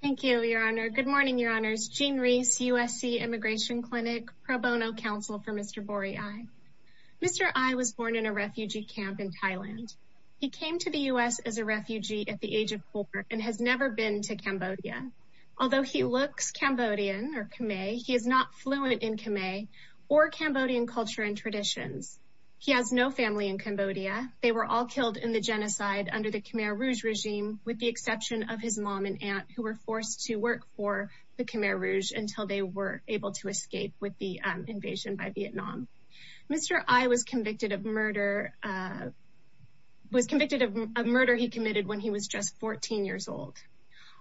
Thank you, Your Honor. Good morning, Your Honors. Jean Rees, USC Immigration Clinic, Pro Bono Counsel for Mr. Borey Ai. Mr. Ai was born in a refugee camp in Thailand. He came to the U.S. as a refugee at the age of four and has never been to Cambodia. Although he looks Cambodian or Khmer, he is not fluent in Khmer or Cambodian culture and traditions. He has no family in Cambodia. They were all killed in the genocide under the Khmer Rouge regime, with the exception of his mom and aunt, who were forced to work for the Khmer Rouge until they were able to escape with the invasion by Vietnam. Mr. Ai was convicted of murder. He was convicted of a murder he committed when he was just 14 years old.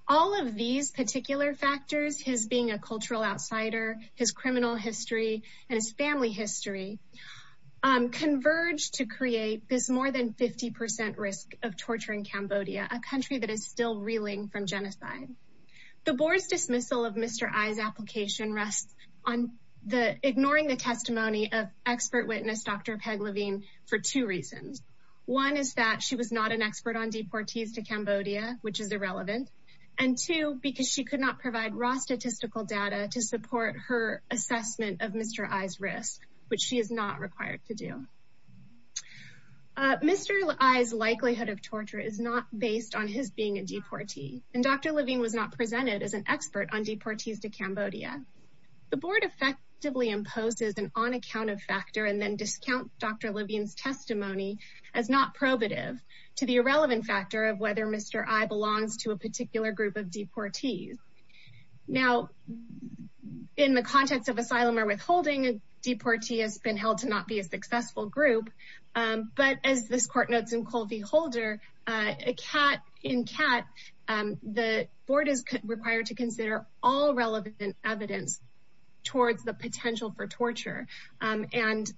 All of these particular factors, his being a cultural outsider, his criminal history, and his family history, converge to create this more than 50 percent risk of torturing Cambodia, a country that is still reeling from genocide. The board's dismissal of Mr. Ai's application rests on ignoring the testimony of expert witness Dr. Peg Levine for two reasons. One is that she was not an expert on deportees to Cambodia, which is irrelevant. And two, because she could not provide raw statistical data to support her assessment of Mr. Ai's risk, which she is not required to do. Mr. Ai's likelihood of torture is not based on his being a deportee, and Dr. Levine was not presented as an expert on deportees to Cambodia. The board effectively imposes an on-account-of factor and then discounts Dr. Levine's testimony as not probative to the irrelevant factor of whether Mr. Ai belongs to a particular group of deportees. Now, in the context of asylum or withholding, a deportee has been held to not be a successful group. But as this court notes in Colby Holder, in CAAT, the board is required to consider all relevant evidence towards the potential for torture. And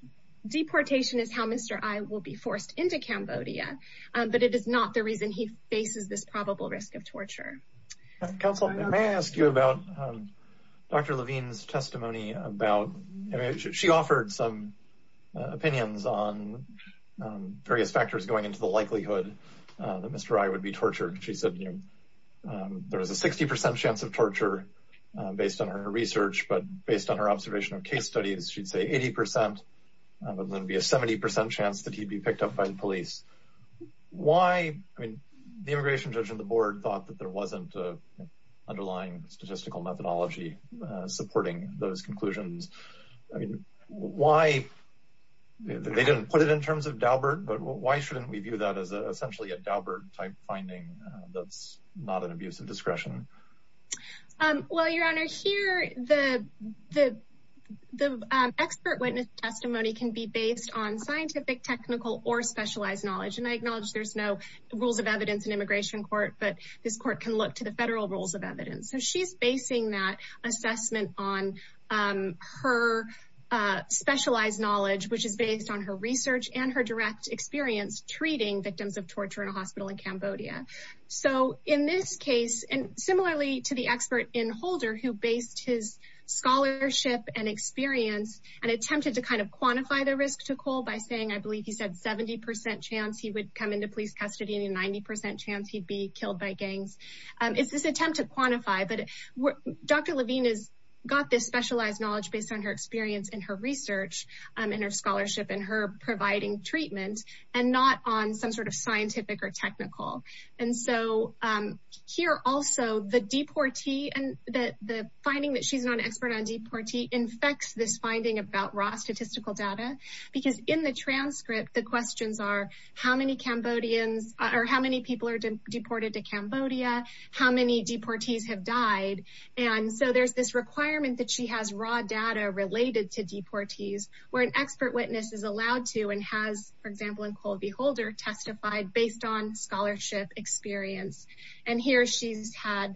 deportation is how Mr. Ai will be forced into Cambodia. But it is not the reason he faces this probable risk of torture. Counsel, may I ask you about Dr. Levine's testimony? She offered some opinions on various factors going into the likelihood that Mr. Ai would be tortured. She said, you know, there is a 60% chance of torture based on her research, but based on her observation of case studies, she'd say 80%. There's going to be a 70% chance that he'd be picked up by the police. Why? I mean, the immigration judge on the board thought that there wasn't an underlying statistical methodology supporting those conclusions. Why? They didn't put it in terms of Daubert, but why shouldn't we view that as essentially a Daubert-type finding that's not an abuse of discretion? Well, Your Honor, here, the expert witness testimony can be based on scientific, technical, or specialized knowledge. And I acknowledge there's no rules of evidence in immigration court, but this court can look to the federal rules of evidence. So she's basing that assessment on her specialized knowledge, which is based on her research and her direct experience treating victims of torture in a hospital in Cambodia. So in this case, and similarly to the expert in Holder, who based his scholarship and experience and attempted to kind of quantify the risk to Cole by saying, I believe he said 70% chance he would come into police custody and 90% chance he'd be killed by gangs. It's this attempt to quantify, but Dr. Levine has got this specialized knowledge based on her experience and her research and her scholarship and her providing treatment and not on some sort of scientific or technical. And so here also, the finding that she's not an expert on deportee infects this finding about raw statistical data, because in the transcript, the questions are how many Cambodians or how many people are deported to Cambodia, how many deportees have died. And so there's this requirement that she has raw data related to deportees, where an expert witness is allowed to and has, for example, in Colby Holder testified based on scholarship experience. And here she's had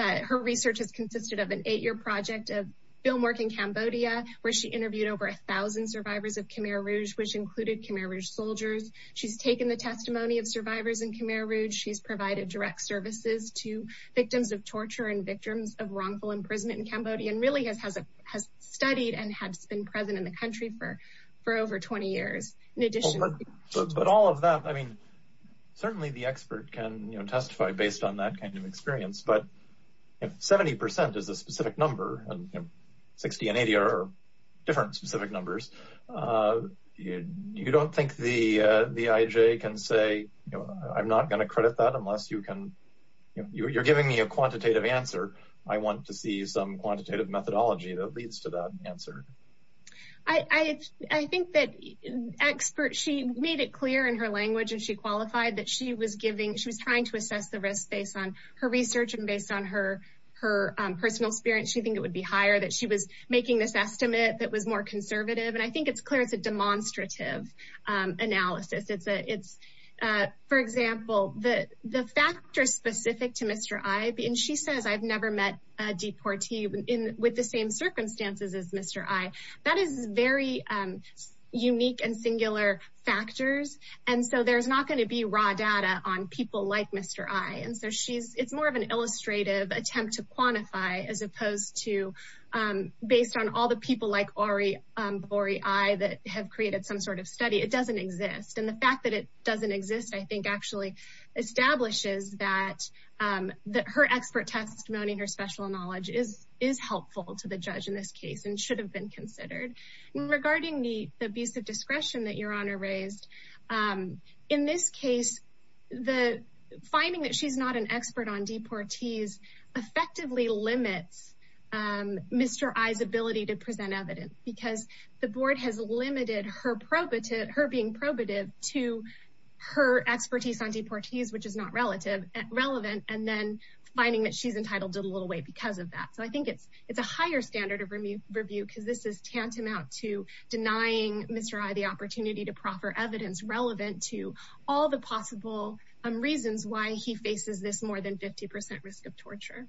her research has consisted of an eight year project of film work in Cambodia, where she interviewed over 1000 survivors of Khmer Rouge, which included Khmer Rouge soldiers. She's taken the testimony of survivors in Khmer Rouge. She's provided direct services to victims of torture and victims of wrongful imprisonment in Cambodia and really has studied and has been present in the country for over 20 years. But all of that, I mean, certainly the expert can testify based on that kind of experience. But if 70 percent is a specific number and 60 and 80 are different specific numbers, you don't think the IJ can say, I'm not going to credit that unless you can. You're giving me a quantitative answer. I want to see some quantitative methodology that leads to that answer. I think that expert she made it clear in her language and she qualified that she was giving. She was trying to assess the risk based on her research and based on her her personal experience. She think it would be higher that she was making this estimate that was more conservative. And I think it's clear it's a demonstrative analysis. For example, the the factor specific to Mr. I. And she says, I've never met a deportee in with the same circumstances as Mr. I. That is very unique and singular factors. And so there's not going to be raw data on people like Mr. I. And so she's it's more of an illustrative attempt to quantify as opposed to based on all the people like Ari, Ari that have created some sort of study. It doesn't exist. And the fact that it doesn't exist, I think, actually establishes that that her expert testimony. Her special knowledge is is helpful to the judge in this case and should have been considered. Regarding the abuse of discretion that your honor raised in this case, the finding that she's not an expert on deportees effectively limits Mr. I's ability to present evidence because the board has limited her probative her being probative to her expertise on deportees, which is not relative relevant and then finding that she's entitled to a little weight because of that. So I think it's it's a higher standard of review because this is tantamount to denying Mr. I. The opportunity to proffer evidence relevant to all the possible reasons why he faces this more than 50 percent risk of torture.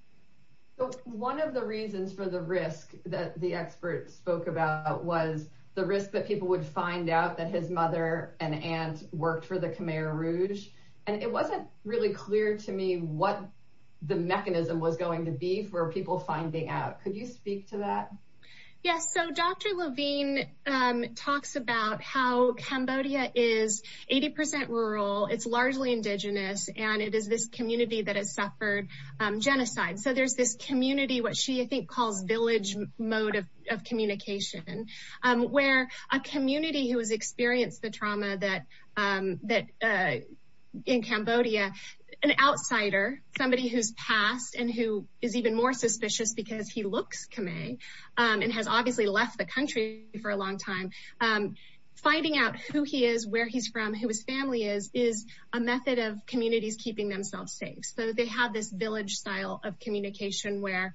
So one of the reasons for the risk that the experts spoke about was the risk that people would find out that his mother and aunt worked for the Khmer Rouge. And it wasn't really clear to me what the mechanism was going to be for people finding out. Could you speak to that? Yes. So Dr. Levine talks about how Cambodia is 80 percent rural. It's largely indigenous and it is this community that has suffered genocide. So there's this community, what she I think calls village mode of communication, where a community who has experienced the trauma that that in Cambodia, an outsider, somebody who's passed and who is even more suspicious because he looks Khmer and has obviously left the country for a long time. Finding out who he is, where he's from, who his family is, is a method of communities keeping themselves safe. So they have this village style of communication where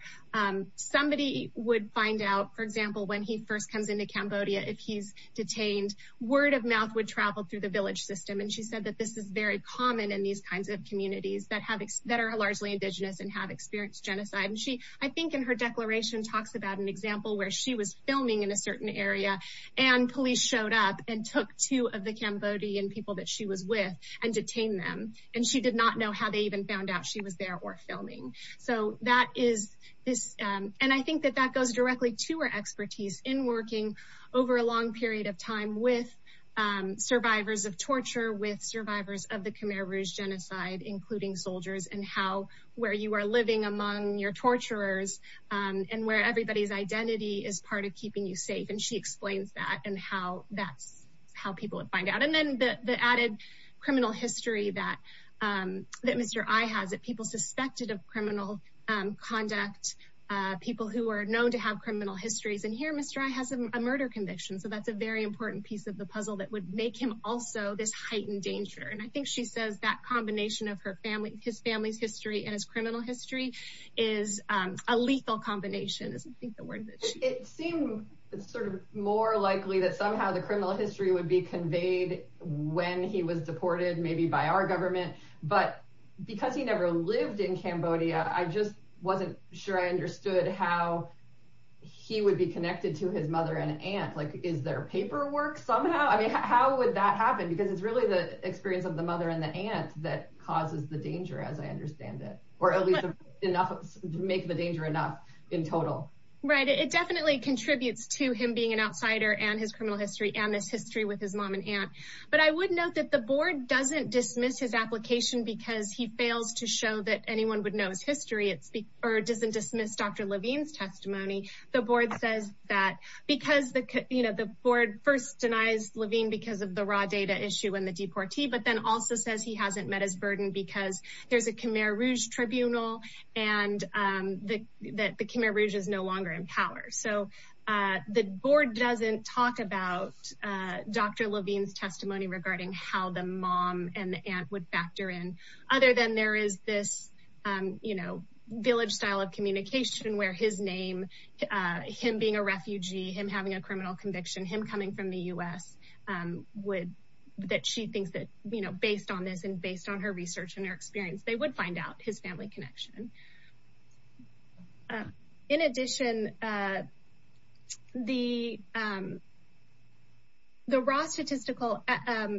somebody would find out, for example, when he first comes into Cambodia, if he's detained, word of mouth would travel through the village system. And she said that this is very common in these kinds of communities that have that are largely indigenous and have experienced genocide. And she I think in her declaration talks about an example where she was filming in a certain area and police showed up and took two of the Cambodian people that she was with and detained them. And she did not know how they even found out she was there or filming. So that is this. And I think that that goes directly to her expertise in working over a long period of time with survivors of torture, with survivors of the Khmer Rouge genocide, including soldiers and how where you are living among your torturers and where everybody's identity is part of keeping you safe. And she explains that and how that's how people would find out. And then the added criminal history that that Mr. I has that people suspected of criminal conduct, people who are known to have criminal histories. And here, Mr. I has a murder conviction. So that's a very important piece of the puzzle that would make him also this heightened danger. And I think she says that combination of her family, his family's history and his criminal history is a lethal combination. It seemed sort of more likely that somehow the criminal history would be conveyed when he was deported, maybe by our government. But because he never lived in Cambodia, I just wasn't sure I understood how he would be connected to his mother and aunt. Like, is there paperwork somehow? I mean, how would that happen? Because it's really the experience of the mother and the aunt that causes the danger, as I understand it, or at least enough to make the danger enough in total. Right. It definitely contributes to him being an outsider and his criminal history and this history with his mom and aunt. But I would note that the board doesn't dismiss his application because he fails to show that anyone would know his history. It's or doesn't dismiss Dr. Levine's testimony. The board says that because, you know, the board first denies Levine because of the raw data issue and the deportee, but then also says he hasn't met his burden because there's a Khmer Rouge tribunal and that the Khmer Rouge is no longer in power. So the board doesn't talk about Dr. Levine's testimony regarding how the mom and the aunt would factor in. Other than there is this, you know, village style of communication where his name, him being a refugee, him having a criminal conviction, him coming from the U.S. would that she thinks that, you know, based on this and based on her research and her experience, they would find out his family connection. In addition, the. The raw statistical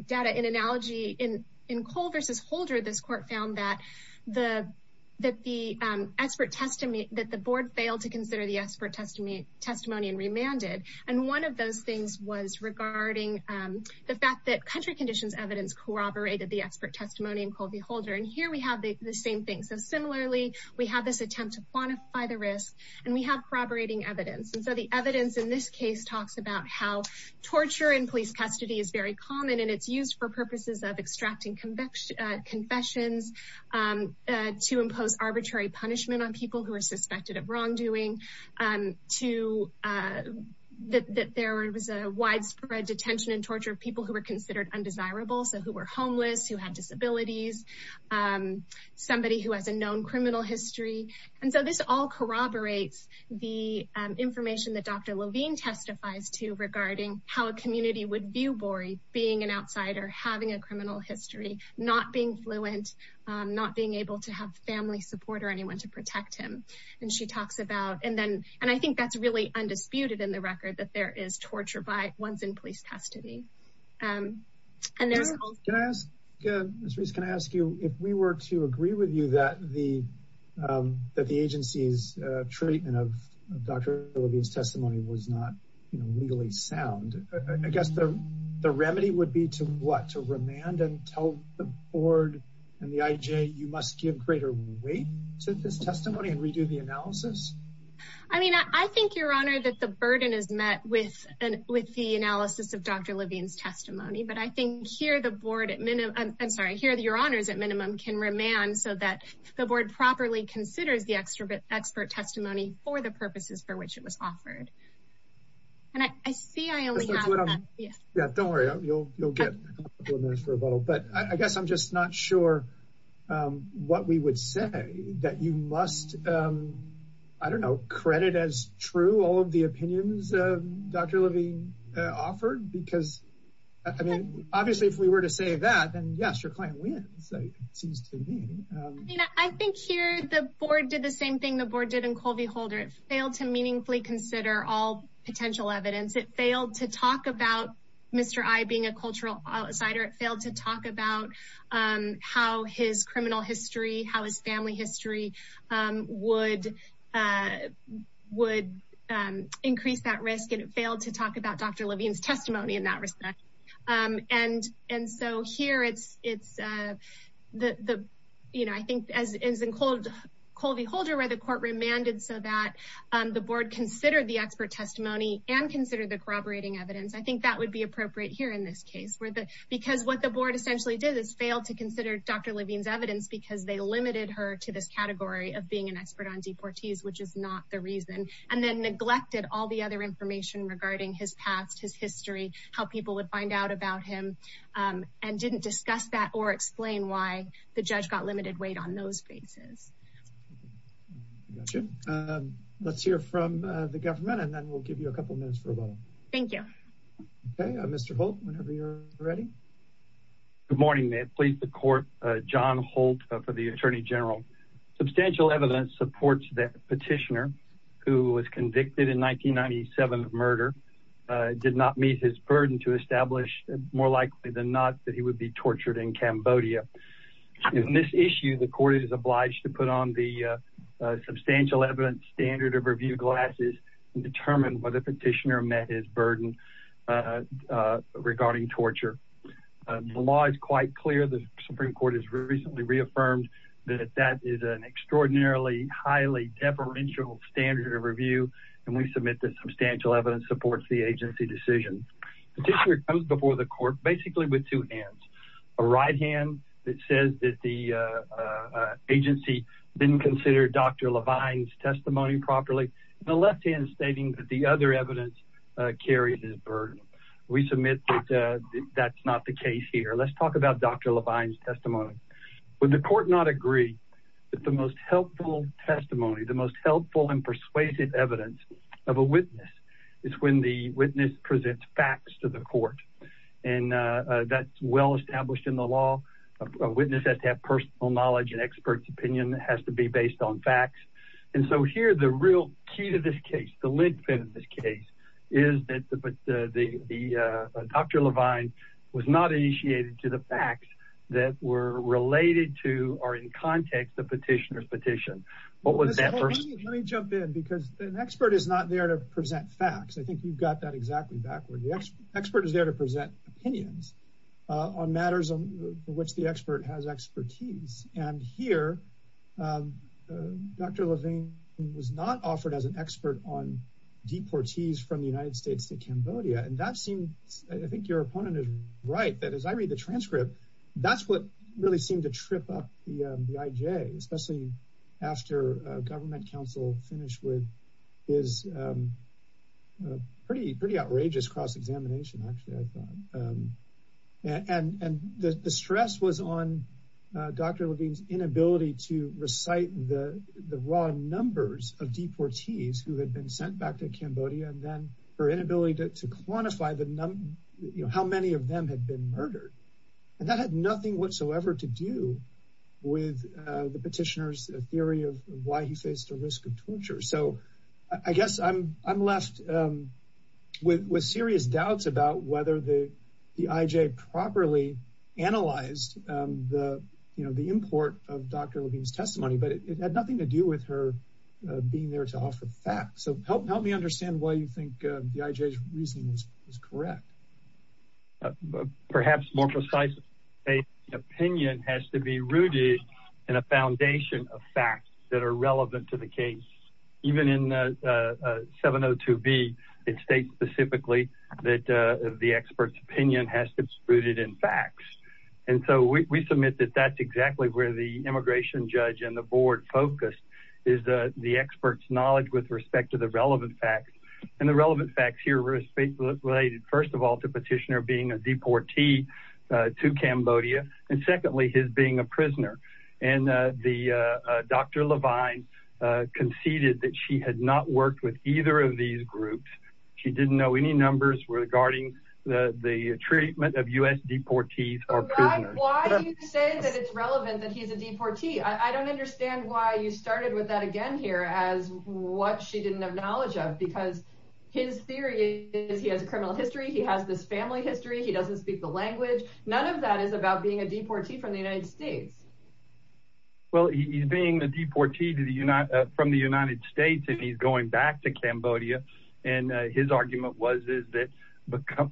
data in analogy in in Cole versus Holder, this court found that the that the expert testimony that the board failed to consider the expert testimony testimony and remanded. And one of those things was regarding the fact that country conditions, evidence corroborated the expert testimony and Colby Holder. And here we have the same thing. So similarly, we have this attempt to quantify the risk and we have corroborating evidence. And so the evidence in this case talks about how torture and police custody is very common and it's used for purposes of extracting conviction confessions to impose arbitrary punishment on people who are suspected of wrongdoing to. That there was a widespread detention and torture of people who were considered undesirable, so who were homeless, who had disabilities, somebody who has a known criminal history. And so this all corroborates the information that Dr. Levine testifies to regarding how a community would view Bori being an outsider, having a criminal history, not being fluent, not being able to have family support or anyone to protect him. And she talks about and then and I think that's really undisputed in the record that there is torture by ones in police custody. Can I ask you if we were to agree with you that the that the agency's treatment of Dr. Levine's testimony was not legally sound? I guess the remedy would be to what to remand and tell the board and the IJ you must give greater weight to this testimony and redo the analysis. I mean, I think, Your Honor, that the burden is met with an with the analysis of Dr. Levine's testimony. But I think here the board at minimum I'm sorry here that your honors at minimum can remand so that the board properly considers the extra bit expert testimony for the purposes for which it was offered. And I see I only have that. Yeah, don't worry, you'll you'll get for a bottle. But I guess I'm just not sure what we would say that you must, I don't know, credit as true all of the opinions of Dr. Levine offered, because I mean, obviously, if we were to say that, then, yes, your client wins. I mean, I think here the board did the same thing the board did in Colby Holder. It failed to meaningfully consider all potential evidence. It failed to talk about Mr. I being a cultural outsider. It failed to talk about how his criminal history, how his family history would would increase that risk. And it failed to talk about Dr. Levine's testimony in that respect. And and so here it's it's the you know, I think as is in cold Colby Holder where the court remanded so that the board consider the expert testimony and consider the corroborating evidence. I think that would be appropriate here in this case where the because what the board essentially did is fail to consider Dr. Levine's evidence because they limited her to this category of being an expert on deportees, which is not the reason. And then neglected all the other information regarding his past, his history, how people would find out about him and didn't discuss that or explain why the judge got limited weight on those bases. Let's hear from the government and then we'll give you a couple of minutes for a while. Thank you, Mr. Ready. Good morning. May it please the court. John Holt for the attorney general. Substantial evidence supports that petitioner who was convicted in 1997 of murder did not meet his burden to establish more likely than not that he would be tortured in Cambodia. In this issue, the court is obliged to put on the substantial evidence standard of review glasses and determine whether petitioner met his burden regarding torture. The law is quite clear. The Supreme Court has recently reaffirmed that that is an extraordinarily highly deferential standard of review, and we submit that substantial evidence supports the agency decision. Petitioner comes before the court basically with two hands, a right hand that says that the agency didn't consider Dr. Levine's testimony properly. The left hand stating that the other evidence carries his burden. We submit that that's not the case here. Levine's testimony. When the court not agree that the most helpful testimony, the most helpful and persuasive evidence of a witness is when the witness presents facts to the court. And that's well established in the law. A witness has to have personal knowledge and experts opinion has to be based on facts. And so here, the real key to this case, the lead in this case, is that the Dr. Levine was not initiated to the facts that were related to or in context of petitioner's petition. What was that? Let me jump in because an expert is not there to present facts. I think you've got that exactly backward. The expert is there to present opinions on matters on which the expert has expertise. And here, Dr. Levine was not offered as an expert on deportees from the United States to Cambodia. And that seems I think your opponent is right. That is, I read the transcript. That's what really seemed to trip up the IJ, especially after government counsel finished with his pretty, pretty outrageous cross-examination. And the stress was on Dr. Levine's inability to recite the raw numbers of deportees who had been sent back to Cambodia and then her inability to quantify how many of them had been murdered. And that had nothing whatsoever to do with the petitioner's theory of why he faced the risk of torture. So I guess I'm left with serious doubts about whether the IJ properly analyzed the import of Dr. Levine's testimony. But it had nothing to do with her being there to offer facts. So help me understand why you think the IJ's reasoning is correct. Perhaps more precisely, the opinion has to be rooted in a foundation of facts that are relevant to the case. Even in 702B, it states specifically that the expert's opinion has to be rooted in facts. And so we submit that that's exactly where the immigration judge and the board focus is the expert's knowledge with respect to the relevant facts. And the relevant facts here were related, first of all, to petitioner being a deportee to Cambodia. And secondly, his being a prisoner. And Dr. Levine conceded that she had not worked with either of these groups. She didn't know any numbers regarding the treatment of U.S. deportees or prisoners. Why do you say that it's relevant that he's a deportee? I don't understand why you started with that again here as what she didn't have knowledge of. Because his theory is he has a criminal history. He has this family history. He doesn't speak the language. None of that is about being a deportee from the United States. Well, he's being a deportee from the United States and he's going back to Cambodia. And his argument was that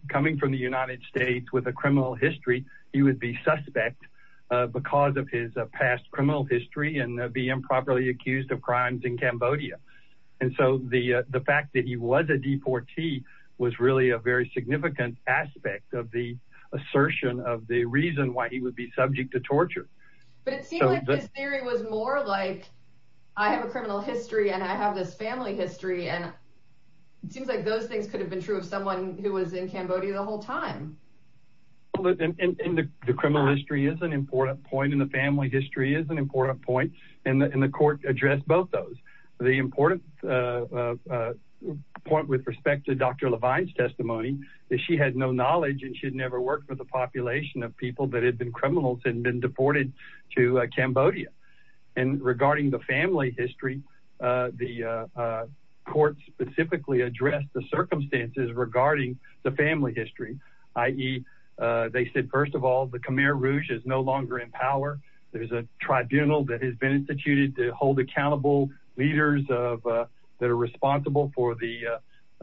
coming from the United States with a criminal history, he would be suspect because of his past criminal history and be improperly accused of crimes in Cambodia. And so the fact that he was a deportee was really a very significant aspect of the assertion of the reason why he would be subject to torture. But it seemed like his theory was more like I have a criminal history and I have this family history. And it seems like those things could have been true of someone who was in Cambodia the whole time. And the criminal history is an important point. And the family history is an important point. And the court addressed both those. The important point with respect to Dr. Levine's testimony is she had no knowledge and she had never worked with a population of people that had been criminals and been deported to Cambodia. And regarding the family history, the court specifically addressed the circumstances regarding the family history, i.e., they said, first of all, the Khmer Rouge is no longer in power. There's a tribunal that has been instituted to hold accountable leaders that are responsible for the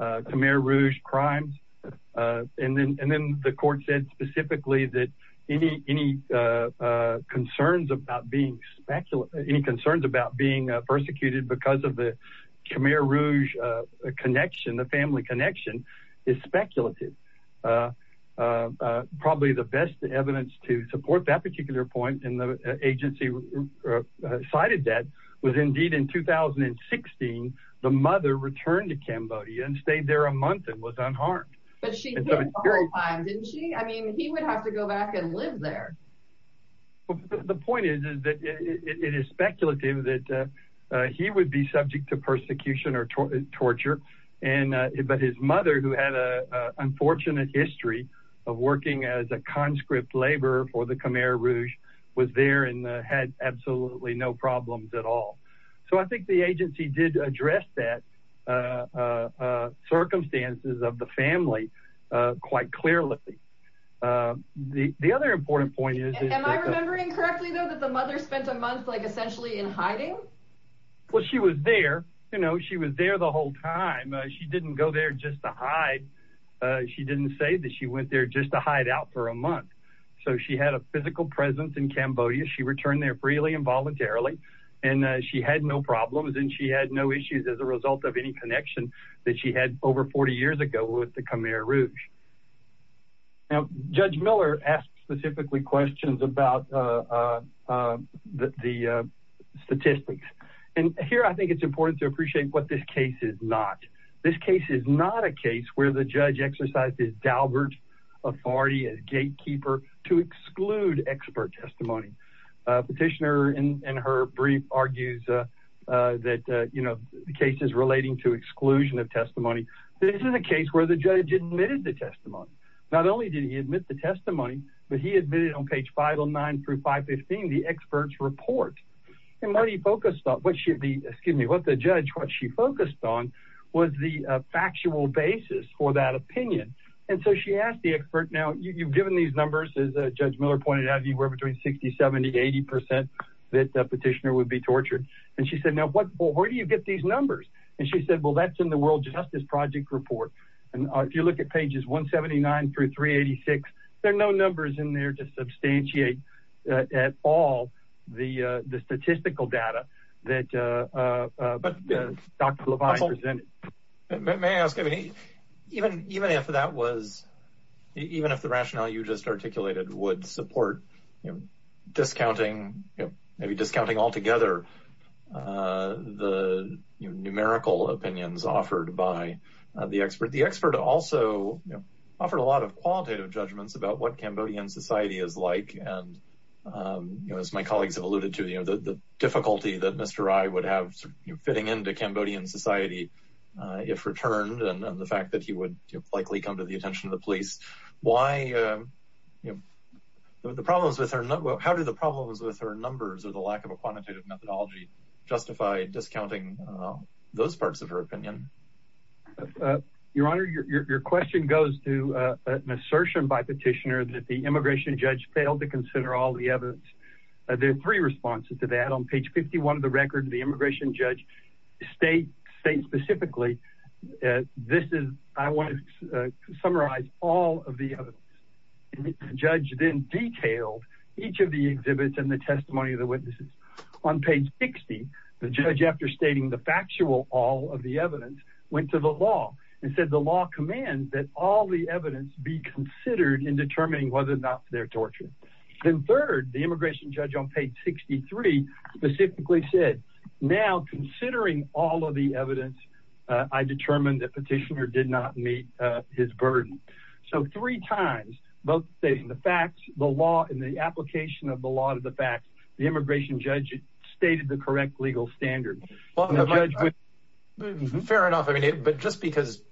Khmer Rouge crimes. And then the court said specifically that any concerns about being persecuted because of the Khmer Rouge connection, the family connection, is speculative. Probably the best evidence to support that particular point, and the agency cited that, was indeed in 2016, the mother returned to Cambodia and stayed there a month and was unharmed. But she came the whole time, didn't she? I mean, he would have to go back and live there. The point is that it is speculative that he would be subject to persecution or torture. But his mother, who had an unfortunate history of working as a conscript laborer for the Khmer Rouge, was there and had absolutely no problems at all. So I think the agency did address that circumstances of the family quite clearly. The other important point is… Am I remembering correctly, though, that the mother spent a month essentially in hiding? Well, she was there. She was there the whole time. She didn't go there just to hide. She didn't say that she went there just to hide out for a month. So she had a physical presence in Cambodia. She returned there freely and voluntarily. And she had no problems and she had no issues as a result of any connection that she had over 40 years ago with the Khmer Rouge. Now, Judge Miller asked specifically questions about the statistics. And here I think it's important to appreciate what this case is not. This case is not a case where the judge exercised his Dalbert authority as gatekeeper to exclude expert testimony. Petitioner, in her brief, argues that the case is relating to exclusion of testimony. This is a case where the judge admitted the testimony. Not only did he admit the testimony, but he admitted on page 509 through 515 the expert's report. And what the judge focused on was the factual basis for that opinion. And so she asked the expert, now, you've given these numbers, as Judge Miller pointed out, you were between 60, 70, 80 percent that the petitioner would be tortured. And she said, now, where do you get these numbers? And she said, well, that's in the World Justice Project report. And if you look at pages 179 through 386, there are no numbers in there to substantiate at all the statistical data that Dr. Levine presented. May I ask, even if that was, even if the rationale you just articulated would support discounting, maybe discounting altogether the numerical opinions offered by the expert, the expert also offered a lot of qualitative judgments about what Cambodian society is like. And as my colleagues have alluded to, the difficulty that Mr. Rai would have fitting into Cambodian society, if returned, and the fact that he would likely come to the attention of the police. How do the problems with her numbers or the lack of a quantitative methodology justify discounting those parts of her opinion? Your Honor, your question goes to an assertion by petitioner that the immigration judge failed to consider all the evidence. There are three responses to that. On page 51 of the record, the immigration judge states specifically, this is, I want to summarize all of the evidence. The judge then detailed each of the exhibits and the testimony of the witnesses. On page 60, the judge, after stating the factual, all of the evidence went to the law and said, the law commands that all the evidence be considered in determining whether or not they're tortured. Then third, the immigration judge on page 63 specifically said, now, considering all of the evidence, I determined that petitioner did not meet his burden. So three times, both stating the facts, the law, and the application of the law to the facts, the immigration judge stated the correct legal standard. Fair enough, but just because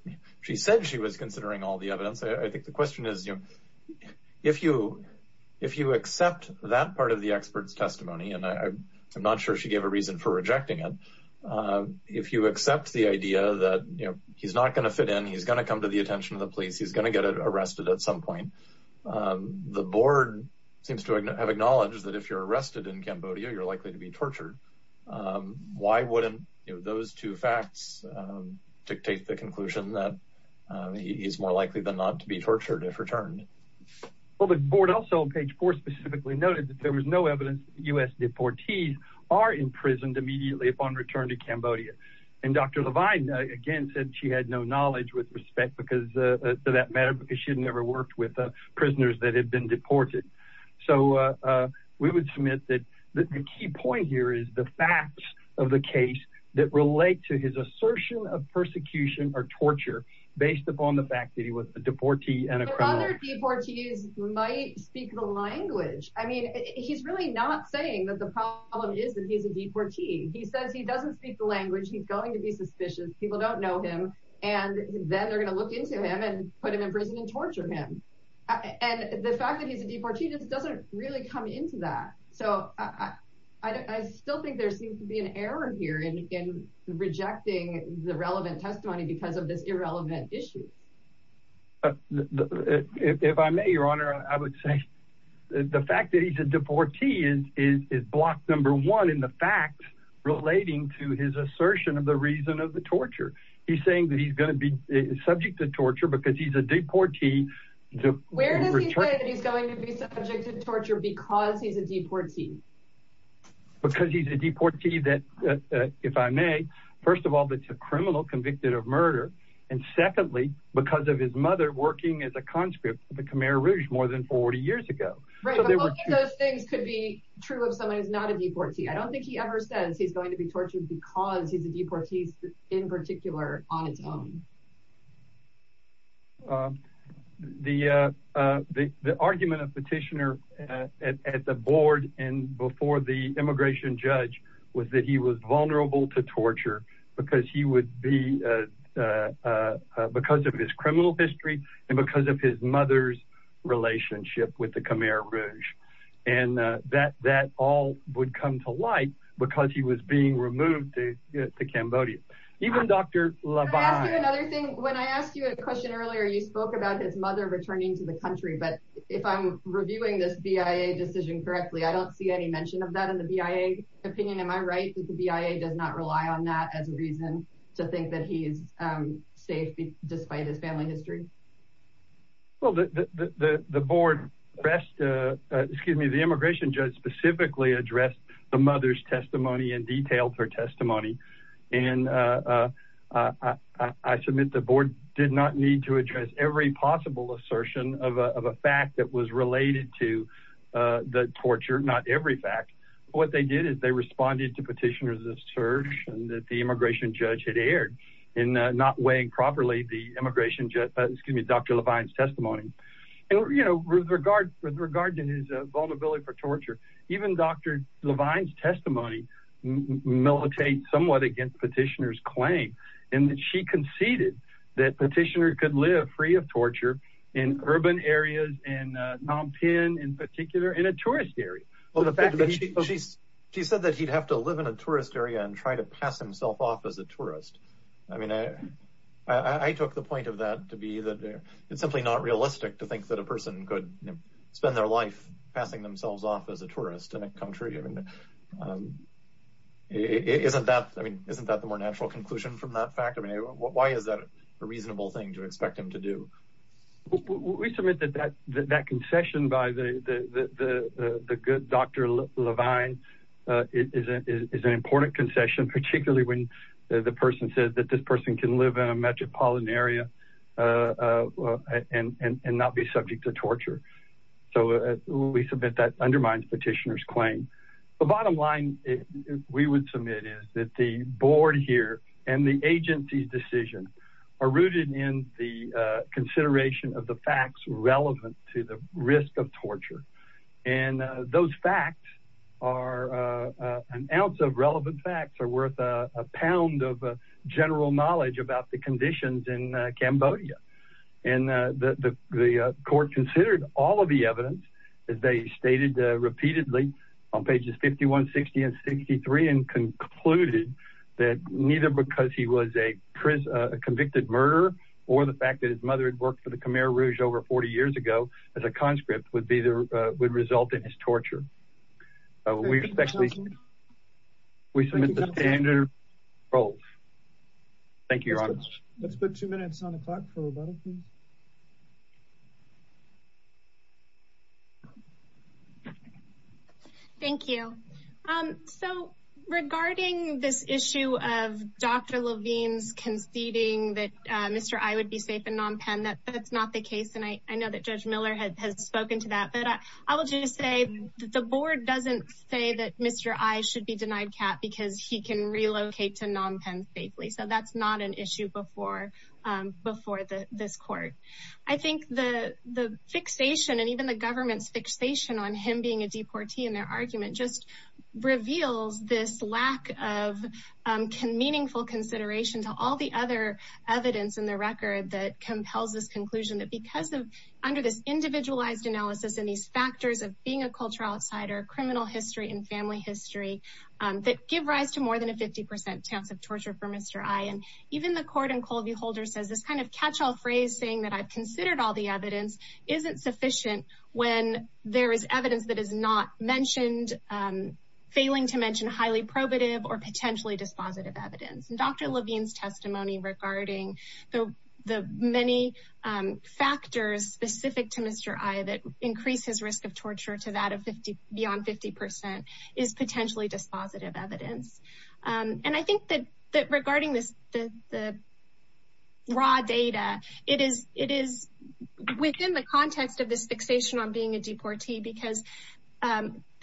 she said she was considering all the evidence, I think the question is, if you accept that part of the expert's testimony, and I'm not sure she gave a reason for rejecting it, if you accept the idea that he's not going to fit in, he's going to come to the attention of the police, he's going to get arrested at some point. The board seems to have acknowledged that if you're arrested in Cambodia, you're likely to be tortured. Why wouldn't those two facts dictate the conclusion that he's more likely than not to be tortured if returned? Well, the board also on page four specifically noted that there was no evidence that U.S. deportees are imprisoned immediately upon return to Cambodia. And Dr. Levine, again, said she had no knowledge with respect to that matter because she had never worked with prisoners that had been deported. So we would submit that the key point here is the facts of the case that relate to his assertion of persecution or torture based upon the fact that he was a deportee and a criminal. But other deportees might speak the language. I mean, he's really not saying that the problem is that he's a deportee. He says he doesn't speak the language, he's going to be suspicious, people don't know him, and then they're going to look into him and put him in prison and torture him. And the fact that he's a deportee doesn't really come into that. So I still think there seems to be an error here in rejecting the relevant testimony because of this irrelevant issue. If I may, Your Honor, I would say the fact that he's a deportee is block number one in the facts relating to his assertion of the reason of the torture. He's saying that he's going to be subject to torture because he's a deportee. Where does he say that he's going to be subject to torture because he's a deportee? Because he's a deportee that, if I may, first of all, that's a criminal convicted of murder. And secondly, because of his mother working as a conscript for the Khmer Rouge more than 40 years ago. Right, but both of those things could be true of someone who's not a deportee. I don't think he ever says he's going to be tortured because he's a deportee in particular on its own. The argument of petitioner at the board and before the immigration judge was that he was vulnerable to torture because of his criminal history and because of his mother's relationship with the Khmer Rouge. And that all would come to light because he was being removed to Cambodia. Even Dr. Lavigne... Can I ask you another thing? When I asked you a question earlier, you spoke about his mother returning to the country. But if I'm reviewing this BIA decision correctly, I don't see any mention of that in the BIA opinion. Dr. Lavigne, am I right that the BIA does not rely on that as a reason to think that he is safe despite his family history? Well, the immigration judge specifically addressed the mother's testimony and detailed her testimony. And I submit the board did not need to address every possible assertion of a fact that was related to the torture. Not every fact. What they did is they responded to petitioners' assertion that the immigration judge had erred in not weighing properly Dr. Lavigne's testimony. With regard to his vulnerability for torture, even Dr. Lavigne's testimony militates somewhat against petitioner's claim. She conceded that petitioner could live free of torture in urban areas, in Phnom Penh in particular, in a tourist area. She said that he'd have to live in a tourist area and try to pass himself off as a tourist. I mean, I took the point of that to be that it's simply not realistic to think that a person could spend their life passing themselves off as a tourist in a country. Isn't that the more natural conclusion from that fact? I mean, why is that a reasonable thing to expect him to do? We submit that that concession by the good Dr. Lavigne is an important concession, particularly when the person says that this person can live in a metropolitan area and not be subject to torture. So we submit that undermines petitioner's claim. The bottom line we would submit is that the board here and the agency's decision are rooted in the consideration of the facts relevant to the risk of torture. And those facts are an ounce of relevant facts are worth a pound of general knowledge about the conditions in Cambodia. And the court considered all of the evidence that they stated repeatedly on pages 51, 60 and 63 and concluded that neither because he was a convicted murderer or the fact that his mother had worked for the Khmer Rouge over 40 years ago as a conscript would result in his torture. We submit the standard. Thank you. Let's put two minutes on the clock. Thank you. So regarding this issue of Dr. Lavigne's conceding that Mr. I would be safe in Phnom Penh, that that's not the case. And I know that Judge Miller has spoken to that. But I will just say that the board doesn't say that Mr. I should be denied cap because he can relocate to Phnom Penh safely. So that's not an issue before before this court. I think the fixation and even the government's fixation on him being a deportee in their argument just reveals this lack of can meaningful consideration to all the other evidence in the record that compels this conclusion that because of under this individualized analysis and these factors of being a cultural outsider, criminal history and family history that give rise to more than a 50 percent chance of torture for Mr. I and even the court and Colby holder says this kind of catch all phrase saying that I've considered all the evidence isn't sufficient when there is evidence that is not mentioned failing to mention highly probative or potentially dispositive evidence. And Dr. Lavigne's testimony regarding the many factors specific to Mr. I that increases risk of torture to that of 50 beyond 50 percent is potentially dispositive evidence. And I think that that regarding this the raw data it is it is within the context of this fixation on being a deportee because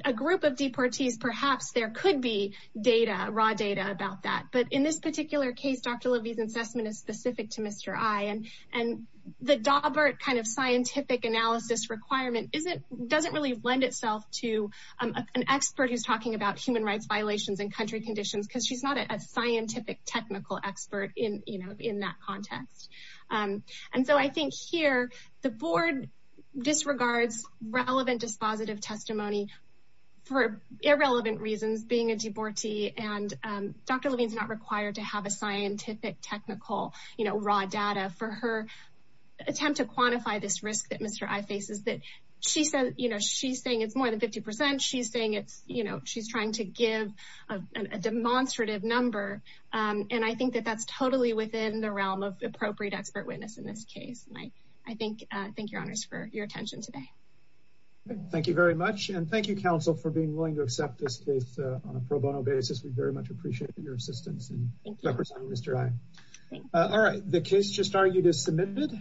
a group of deportees perhaps there could be data raw data about that. But in this particular case Dr. Lavigne's assessment is specific to Mr. I and and the Daubert kind of scientific analysis requirement isn't doesn't really lend itself to an expert who's talking about human rights violations and country conditions because she's not a scientific technical expert in that context. And so I think here the board disregards relevant dispositive testimony for irrelevant reasons being a deportee and Dr. Lavigne's not required to have a scientific technical raw data for her attempt to quantify this risk that Mr. I faces that she said she's saying it's more than 50 percent. She's saying it's she's trying to give a demonstrative number. And I think that that's totally within the realm of appropriate expert witness in this case. And I think I think your honors for your attention today. Thank you very much. And thank you counsel for being willing to accept this case on a pro bono basis. We very much appreciate your assistance. The case just argued is submitted.